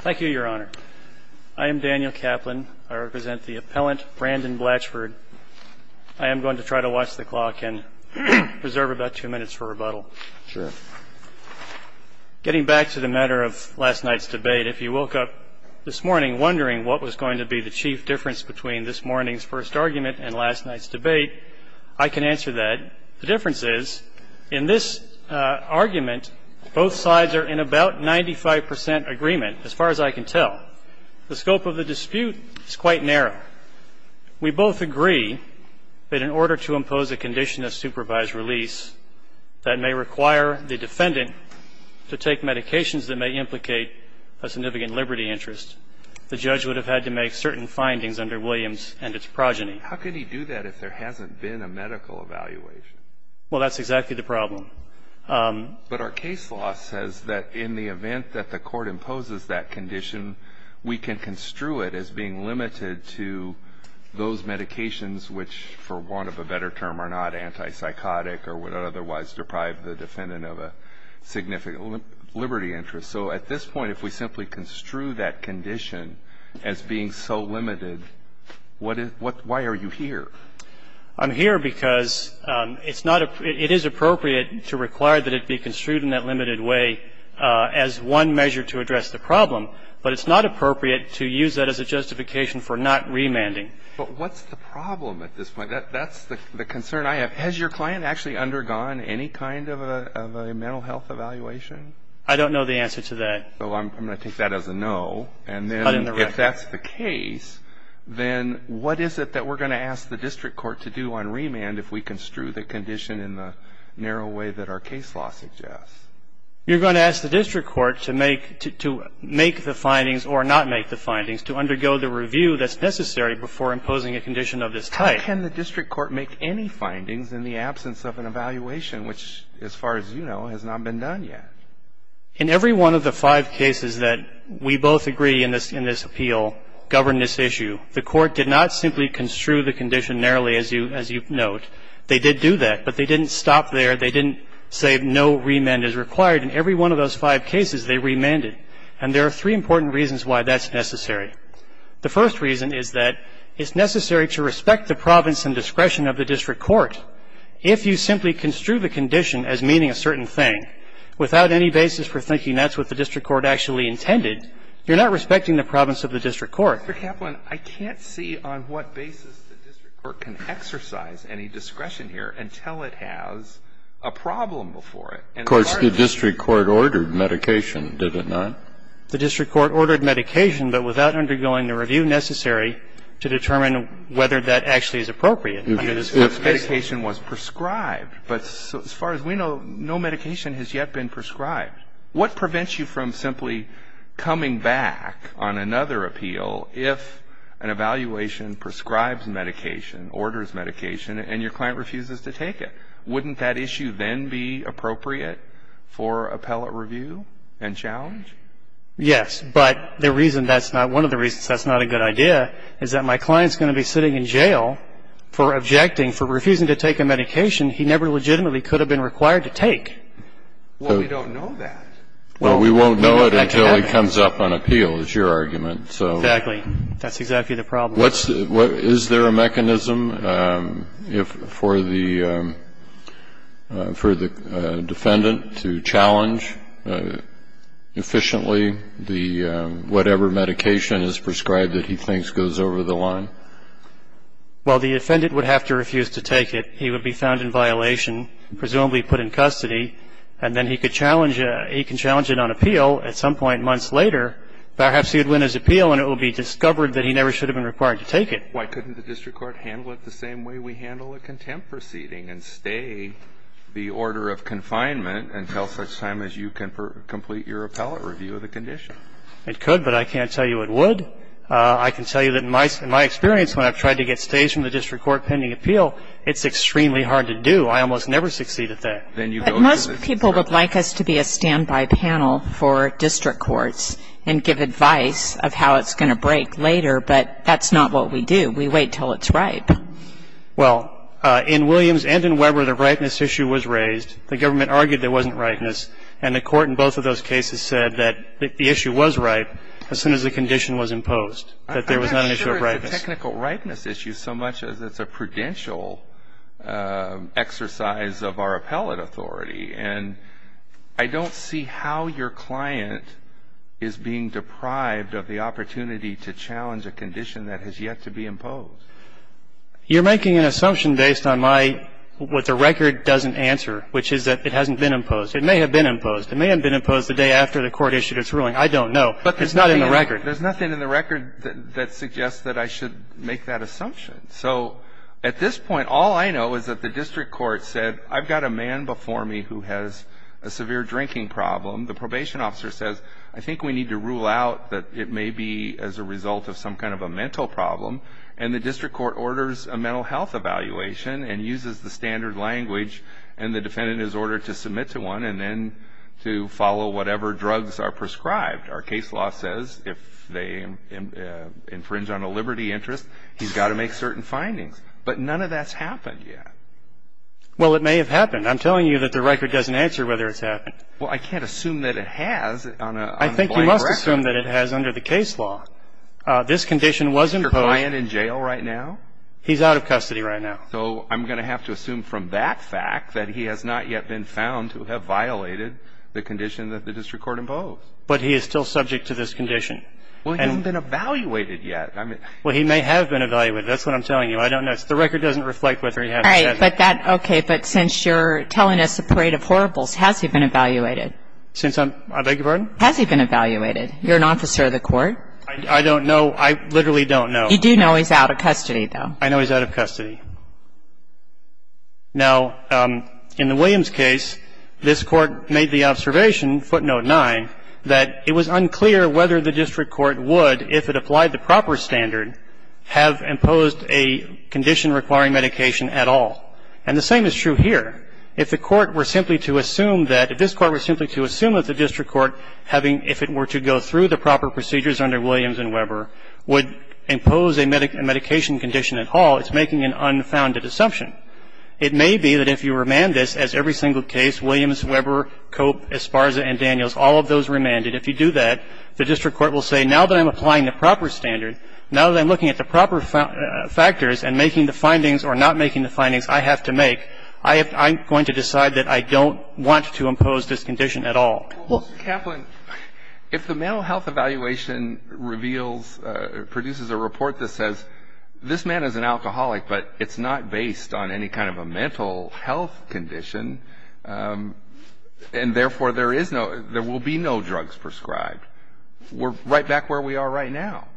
Thank you, Your Honor. I am Daniel Kaplan. I represent the appellant Brandyn Blatchford. I am going to try to watch the clock and preserve about two minutes for rebuttal. Sure. Getting back to the matter of last night's debate, if you woke up this morning wondering what was going to be the chief difference between this morning's first argument and last night's debate, I can answer that. The difference is, in this argument, both sides are in about 95 percent agreement, as far as I can tell. The scope of the dispute is quite narrow. We both agree that in order to impose a condition of supervised release that may require the defendant to take medications that may implicate a significant liberty interest, the judge would have had to make certain findings under Williams and its progeny. How could he do that if there hasn't been a medical evaluation? Well, that's exactly the problem. But our case law says that in the event that the court imposes that condition, we can construe it as being limited to those medications which, for want of a better term, are not antipsychotic or would otherwise deprive the defendant of a significant liberty interest. So at this point, if we simply construe that condition as being so limited, why are you here? I'm here because it is appropriate to require that it be construed in that limited way as one measure to address the problem, but it's not appropriate to use that as a justification for not remanding. But what's the problem at this point? That's the concern I have. Has your client actually undergone any kind of a mental health evaluation? I don't know the answer to that. So I'm going to take that as a no, and then if that's the case, then what is it that we're going to ask the district court to do on remand if we construe the condition in the narrow way that our case law suggests? You're going to ask the district court to make the findings or not make the findings, to undergo the review that's necessary before imposing a condition of this type. How can the district court make any findings in the absence of an evaluation, which, as far as you know, has not been done yet? In every one of the five cases that we both agree in this appeal govern this issue, the court did not simply construe the condition narrowly, as you note. They did do that, but they didn't stop there. They didn't say no remand is required. In every one of those five cases, they remanded. And there are three important reasons why that's necessary. The first reason is that it's necessary to respect the province and discretion of the district court. If you simply construe the condition as meaning a certain thing without any basis for thinking that's what the district court actually intended, you're not respecting the province of the district court. Mr. Kaplan, I can't see on what basis the district court can exercise any discretion here until it has a problem before it. Of course, the district court ordered medication, did it not? The district court ordered medication, but without undergoing the review necessary to determine whether that actually is appropriate. If medication was prescribed, but as far as we know, no medication has yet been prescribed. What prevents you from simply coming back on another appeal if an evaluation prescribes medication, orders medication, and your client refuses to take it? Wouldn't that issue then be appropriate for appellate review and challenge? Yes, but the reason that's not one of the reasons that's not a good idea is that my client's going to be sitting in jail for objecting, for refusing to take a medication he never legitimately could have been required to take. Well, we don't know that. Well, we won't know it until he comes up on appeal, is your argument. Exactly. That's exactly the problem. Is there a mechanism for the defendant to challenge efficiently whatever medication is prescribed that he thinks goes over the line? Well, the defendant would have to refuse to take it. He would be found in violation, presumably put in custody, and then he could challenge it on appeal. At some point months later, perhaps he would win his appeal and it would be discovered that he never should have been required to take it. Why couldn't the district court handle it the same way we handle a contempt proceeding and stay the order of confinement until such time as you can complete your appellate review of the condition? It could, but I can't tell you it would. I can tell you that in my experience, when I've tried to get stays from the district court pending appeal, it's extremely hard to do. I almost never succeed at that. But most people would like us to be a standby panel for district courts and give advice of how it's going to break later, but that's not what we do. We wait until it's ripe. Well, in Williams and in Weber, the ripeness issue was raised. The government argued there wasn't ripeness, and the court in both of those cases said that the issue was ripe as soon as the condition was imposed, that there was not an issue of ripeness. I'm not sure it's a technical ripeness issue so much as it's a prudential exercise of our appellate authority. And I don't see how your client is being deprived of the opportunity to challenge a condition that has yet to be imposed. You're making an assumption based on my what the record doesn't answer, which is that it hasn't been imposed. It may have been imposed. It may have been imposed the day after the court issued its ruling. I don't know. It's not in the record. There's nothing in the record that suggests that I should make that assumption. So at this point, all I know is that the district court said, I've got a man before me who has a severe drinking problem. The probation officer says, I think we need to rule out that it may be as a result of some kind of a mental problem. And the district court orders a mental health evaluation and uses the standard language, and the defendant is ordered to submit to one and then to follow whatever drugs are prescribed. Our case law says if they infringe on a liberty interest, he's got to make certain findings. But none of that's happened yet. Well, it may have happened. I'm telling you that the record doesn't answer whether it's happened. Well, I can't assume that it has on a blank record. I think you must assume that it has under the case law. This condition was imposed. Is your client in jail right now? He's out of custody right now. So I'm going to have to assume from that fact that he has not yet been found to have violated the condition that the district court imposed. But he is still subject to this condition. Well, he hasn't been evaluated yet. Well, he may have been evaluated. That's what I'm telling you. I don't know. The record doesn't reflect whether he has or hasn't. All right. But that's okay. But since you're telling us the parade of horribles, has he been evaluated? Since I'm – I beg your pardon? Has he been evaluated? You're an officer of the court. I literally don't know. You do know he's out of custody, though. I know he's out of custody. Now, in the Williams case, this court made the observation, footnote 9, that it was unclear whether the district court would, if it applied the proper standard, have imposed a condition requiring medication at all. And the same is true here. If the court were simply to assume that – if this court were simply to assume that the district court, having – if it were to go through the proper procedures under Williams and Weber, would impose a medication condition at all, it's making an unfounded assumption. It may be that if you remand this, as every single case, Williams, Weber, Cope, Esparza, and Daniels, all of those remanded, if you do that, the district court will say, now that I'm applying the proper standard, now that I'm looking at the proper factors and making the findings or not making the findings I have to make, I'm going to decide that I don't want to impose this condition at all. Well, Mr. Kaplan, if the mental health evaluation reveals – produces a report that says, this man is an alcoholic, but it's not based on any kind of a mental health condition, and therefore there is no – there will be no drugs prescribed, we're right back where we are right now.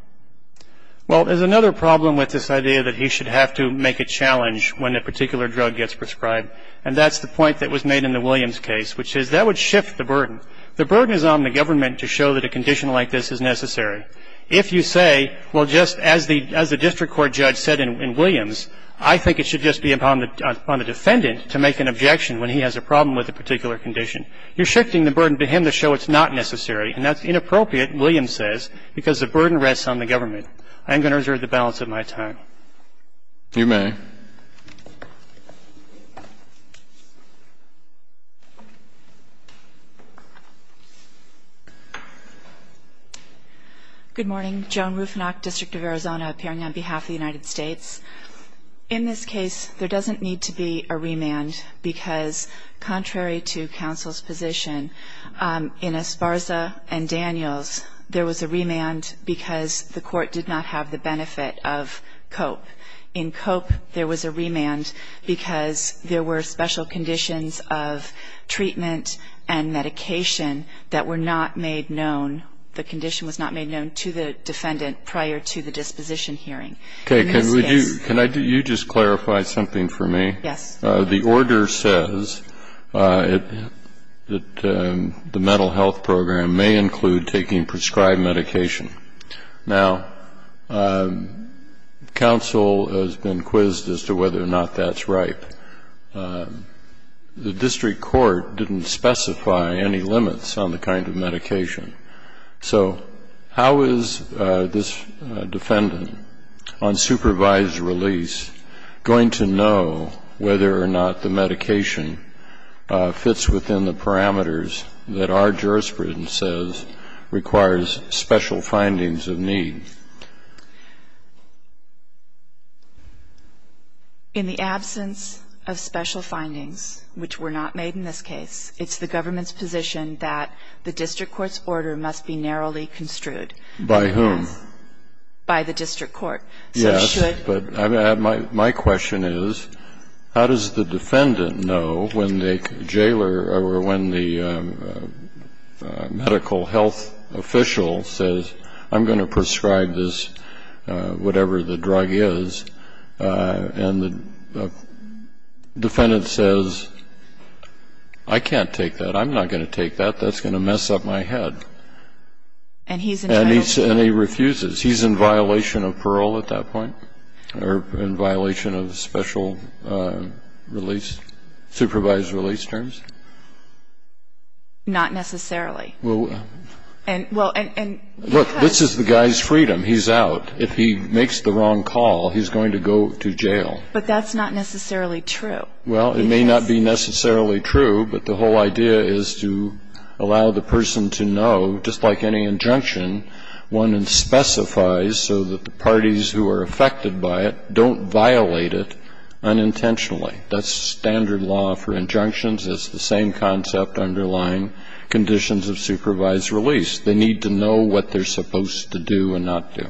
Well, there's another problem with this idea that he should have to make a challenge when a particular drug gets prescribed, and that's the point that was made in the Williams case, which is that would shift the burden. The burden is on the government to show that a condition like this is necessary. If you say, well, just as the district court judge said in Williams, I think it should just be upon the defendant to make an objection when he has a problem with a particular condition, you're shifting the burden to him to show it's not necessary, and that's inappropriate, Williams says, because the burden rests on the government. I'm going to reserve the balance of my time. You may. Good morning. Joan Rufinock, District of Arizona, appearing on behalf of the United States. In this case, there doesn't need to be a remand because, contrary to counsel's position, in Esparza and Daniels, there was a remand because the court did not have the benefit of COPE. In COPE, there was a remand because there were special conditions of treatment and medication that were not made known. The condition was not made known to the defendant prior to the disposition hearing. Okay. Can you just clarify something for me? Yes. The order says that the mental health program may include taking prescribed medication. Now, counsel has been quizzed as to whether or not that's right. The district court didn't specify any limits on the kind of medication. So how is this defendant on supervised release going to know whether or not the medication fits within the parameters that our jurisprudence says requires special findings of need? In the absence of special findings, which were not made in this case, it's the government's position that the district court's order must be narrowly construed. By whom? By the district court. Yes, but my question is, how does the defendant know when the jailer or when the medical health official says, I'm going to prescribe this, whatever the drug is, and the defendant says, I can't take that, I'm not going to take that, that's going to mess up my head. And he's entitled to parole. And he refuses. He's in violation of parole at that point, or in violation of special release, supervised release terms? Not necessarily. Well, look, this is the guy's freedom. He's out. If he makes the wrong call, he's going to go to jail. But that's not necessarily true. Well, it may not be necessarily true, but the whole idea is to allow the person to know, just like any injunction, one specifies so that the parties who are affected by it don't violate it unintentionally. That's standard law for injunctions. It's the same concept underlying conditions of supervised release. They need to know what they're supposed to do and not do.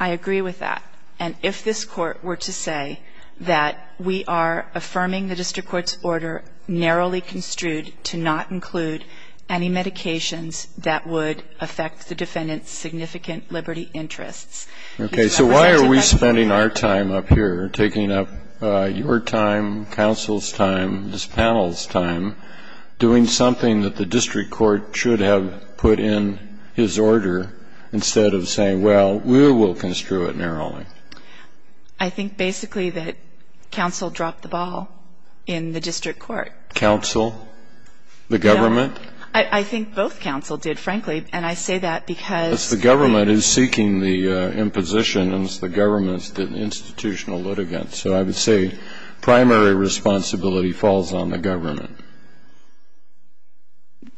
I agree with that. And if this Court were to say that we are affirming the district court's order narrowly construed to not include any medications that would affect the defendant's significant liberty interests. Okay. So why are we spending our time up here, taking up your time, counsel's time, this panel's time, doing something that the district court should have put in his order instead of saying, well, we will construe it narrowly? I think basically that counsel dropped the ball in the district court. Counsel? No. The government? I think both counsel did, frankly. And I say that because... Because the government is seeking the impositions. The government is the institutional litigant. So I would say primary responsibility falls on the government.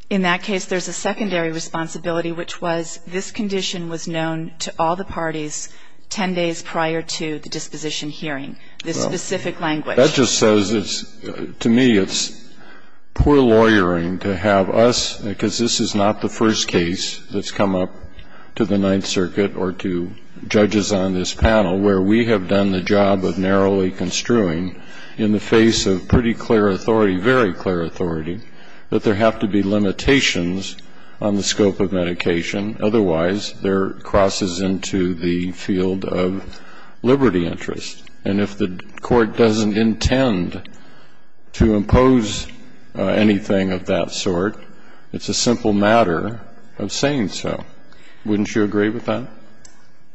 In that case, there's a secondary responsibility, which was this condition was known to all the parties 10 days prior to the disposition hearing. This specific language. Well, that just says it's to me it's poor lawyering to have us, because this is not the first case that's come up to the Ninth Circuit or to judges on this panel, where we have done the job of narrowly construing in the face of pretty clear authority, very clear authority, that there have to be limitations on the scope of medication. Otherwise, there crosses into the field of liberty interest. And if the Court doesn't intend to impose anything of that sort, it's a simple matter of saying so. Wouldn't you agree with that?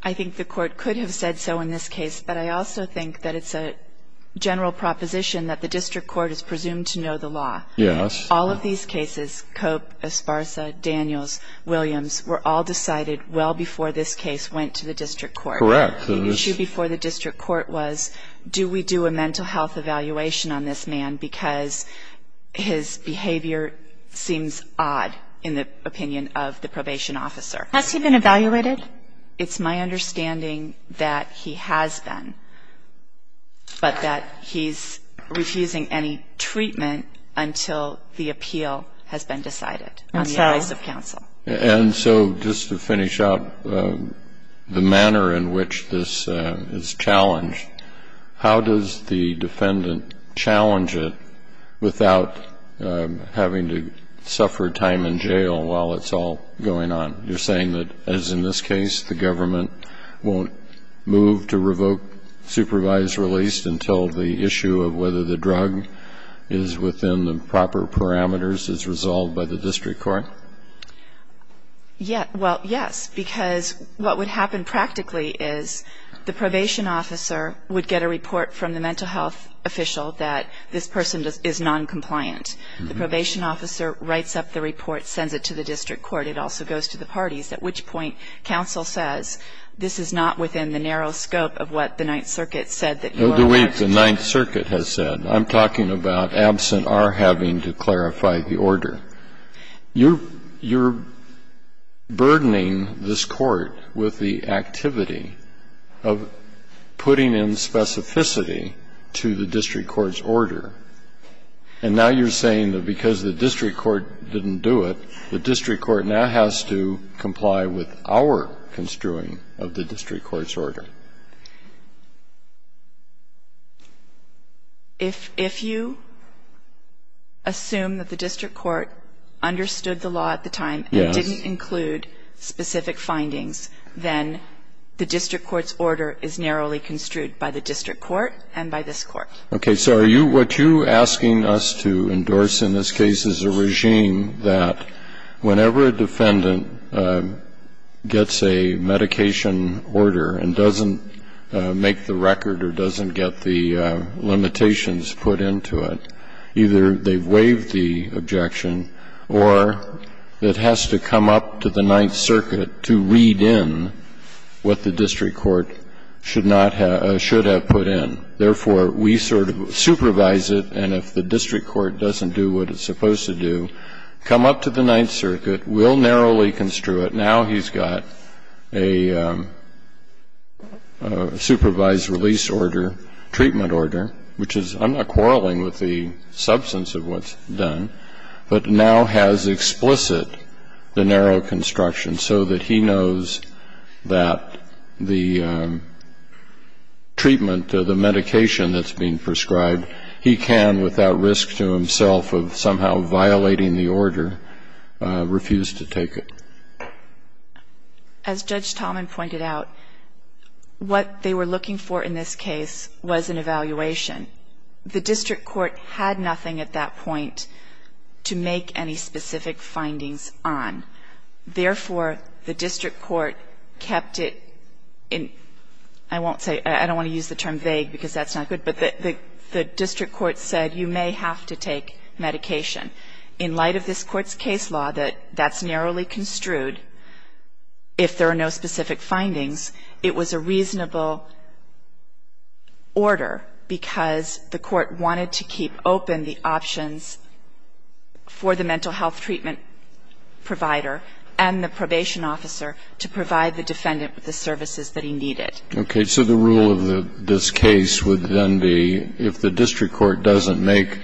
I think the Court could have said so in this case, but I also think that it's a general proposition that the district court is presumed to know the law. Yes. All of these cases, Cope, Esparza, Daniels, Williams, were all decided well before this case went to the district court. Correct. The issue before the district court was do we do a mental health evaluation on this man, because his behavior seems odd in the opinion of the probation officer. Has he been evaluated? It's my understanding that he has been, but that he's refusing any treatment until the appeal has been decided on the advice of counsel. And so just to finish up, the manner in which this is challenged, how does the defendant challenge it without having to suffer time in jail while it's all going on? You're saying that, as in this case, the government won't move to revoke supervised release until the issue of whether the drug is within the proper parameters is resolved by the district court? Well, yes, because what would happen practically is the probation officer would get a report from the mental health official that this person is noncompliant. The probation officer writes up the report, sends it to the district court. It also goes to the parties, at which point counsel says this is not within the narrow scope of what the Ninth Circuit said that you are aware of. The way the Ninth Circuit has said. I'm talking about absent our having to clarify the order. You're burdening this Court with the activity of putting in specificity to the district court's order, and now you're saying that because the district court didn't do it, the district court now has to comply with our construing of the district court's order. If you assume that the district court understood the law at the time and didn't include specific findings, then the district court's order is narrowly construed by the district court and by this Court. Okay. So are you, what you're asking us to endorse in this case is a regime that whenever a defendant gets a medication order and doesn't make the record or doesn't get the limitations put into it, either they've waived the objection or it has to come up to the Ninth Circuit to read in what the district court should not have, should have put in. Therefore, we sort of supervise it, and if the district court doesn't do what it's supposed to do, come up to the Ninth Circuit, we'll narrowly construe it. Now he's got a supervised release order, treatment order, which is, I'm not quarreling with the substance of what's done, but now has explicit the narrow construction so that he knows that the treatment, the medication that's being prescribed, he can, without risk to himself of somehow violating the order, refuse to take it. As Judge Tallman pointed out, what they were looking for in this case was an evaluation. The district court had nothing at that point to make any specific findings on. Therefore, the district court kept it in, I won't say, I don't want to use the term vague because that's not good, but the district court said you may have to take medication. In light of this Court's case law that that's narrowly construed, if there are no specific findings, it was a reasonable order because the court wanted to keep open the options for the mental health treatment provider and the probation officer to provide the defendant with the services that he needed. Okay. So the rule of this case would then be if the district court doesn't make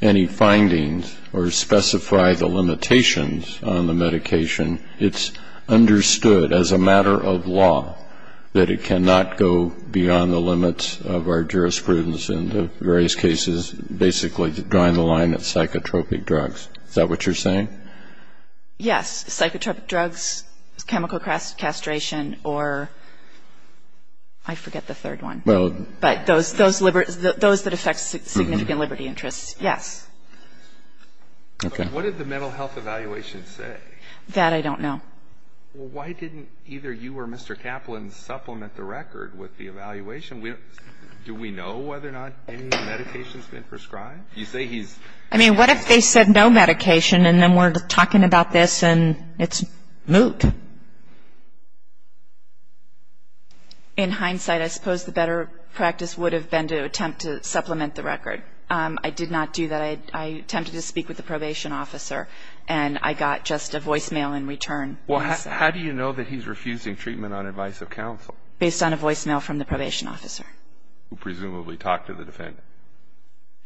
any findings or specify the limitations on the medication, it's understood as a matter of law that it cannot go beyond the limits of our jurisprudence in the various cases, basically drawing the line of psychotropic drugs. Is that what you're saying? Yes. Psychotropic drugs, chemical castration, or I forget the third one. Well. But those that affect significant liberty interests, yes. Okay. But what did the mental health evaluation say? That I don't know. Well, why didn't either you or Mr. Kaplan supplement the record with the evaluation? Do we know whether or not any medication's been prescribed? You say he's. I mean, what if they said no medication and then we're talking about this and it's moot? In hindsight, I suppose the better practice would have been to attempt to supplement the record. I did not do that. I attempted to speak with the probation officer, and I got just a voicemail in return. Well, how do you know that he's refusing treatment on advice of counsel? Based on a voicemail from the probation officer. Who presumably talked to the defendant.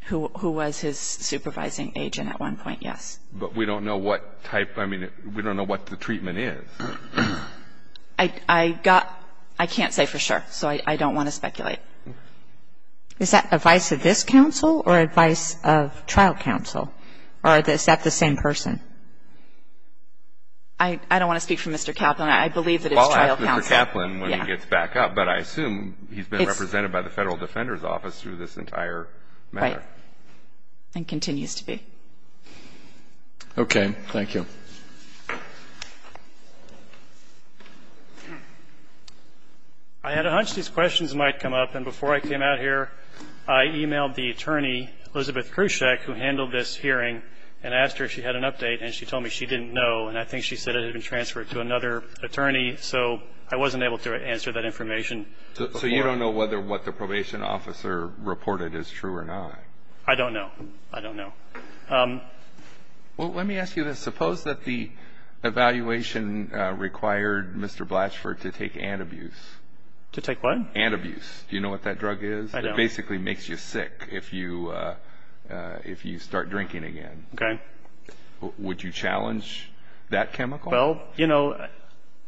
Who was his supervising agent at one point, yes. But we don't know what type, I mean, we don't know what the treatment is. I got, I can't say for sure, so I don't want to speculate. Is that advice of this counsel or advice of trial counsel? Or is that the same person? I don't want to speak for Mr. Kaplan. I believe that it's trial counsel. I'll ask Mr. Kaplan when he gets back up, but I assume he's been represented by the Federal Defender's Office through this entire matter. Right. And continues to be. Okay. Thank you. I had a hunch these questions might come up, and before I came out here, I e-mailed the attorney, Elizabeth Krusech, who handled this hearing and asked her if she had an update, and she told me she didn't know, and I think she said it had been transferred to another attorney. So I wasn't able to answer that information. So you don't know whether what the probation officer reported is true or not? I don't know. I don't know. Well, let me ask you this. Suppose that the evaluation required Mr. Blatchford to take Antabuse. To take what? Antabuse. Do you know what that drug is? I don't. It basically makes you sick if you start drinking again. Okay. Would you challenge that chemical? Well, you know,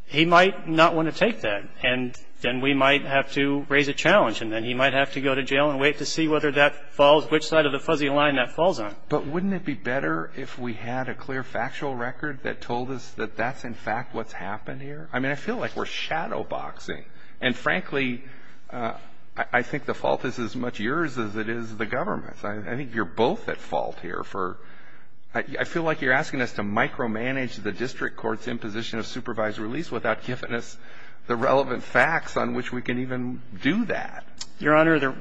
he might not want to take that, and then we might have to raise a challenge, and then he might have to go to jail and wait to see whether that falls, which side of the fuzzy line that falls on. But wouldn't it be better if we had a clear factual record that told us that that's, in fact, what's happened here? I mean, I feel like we're shadowboxing, and frankly, I think the fault is as much yours as it is the government's. I think you're both at fault here for – I feel like you're asking us to micromanage the district court's imposition of supervised release without giving us the relevant facts on which we can even do that. Your Honor,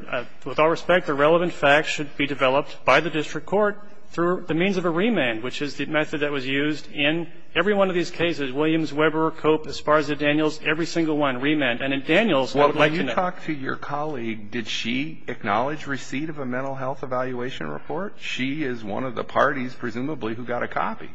with all respect, the relevant facts should be developed by the district court through the means of a remand, which is the method that was used in every one of these cases, Williams, Weber, Cope, Esparza, Daniels, every single one, remand. And in Daniels, I would like to know – Well, when you talked to your colleague, did she acknowledge receipt of a mental health evaluation report? She is one of the parties, presumably, who got a copy.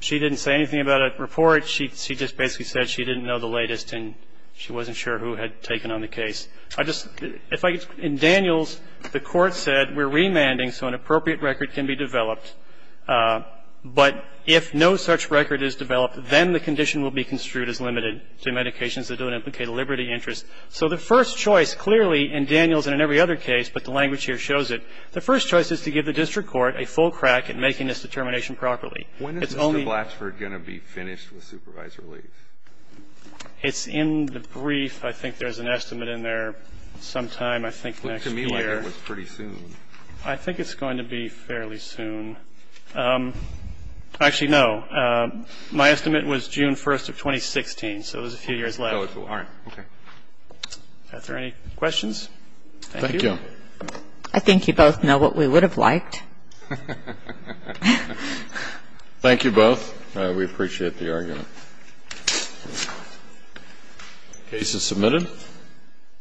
She didn't say anything about a report. She just basically said she didn't know the latest, and she wasn't sure who had taken on the case. I just – if I – in Daniels, the court said we're remanding so an appropriate record can be developed, but if no such record is developed, then the condition will be construed as limited to medications that don't implicate a liberty interest. So the first choice, clearly, in Daniels and in every other case, but the language here shows it, the first choice is to give the district court a full crack at making this determination properly. It's only – When is Mr. Blatchford going to be finished with supervisory leave? It's in the brief. I think there's an estimate in there sometime, I think, next year. It looks to me like it was pretty soon. I think it's going to be fairly soon. Actually, no. My estimate was June 1st of 2016, so there's a few years left. Oh, it's – all right. Okay. Are there any questions? Thank you. Thank you. I think you both know what we would have liked. Thank you both. We appreciate the argument. The case is submitted.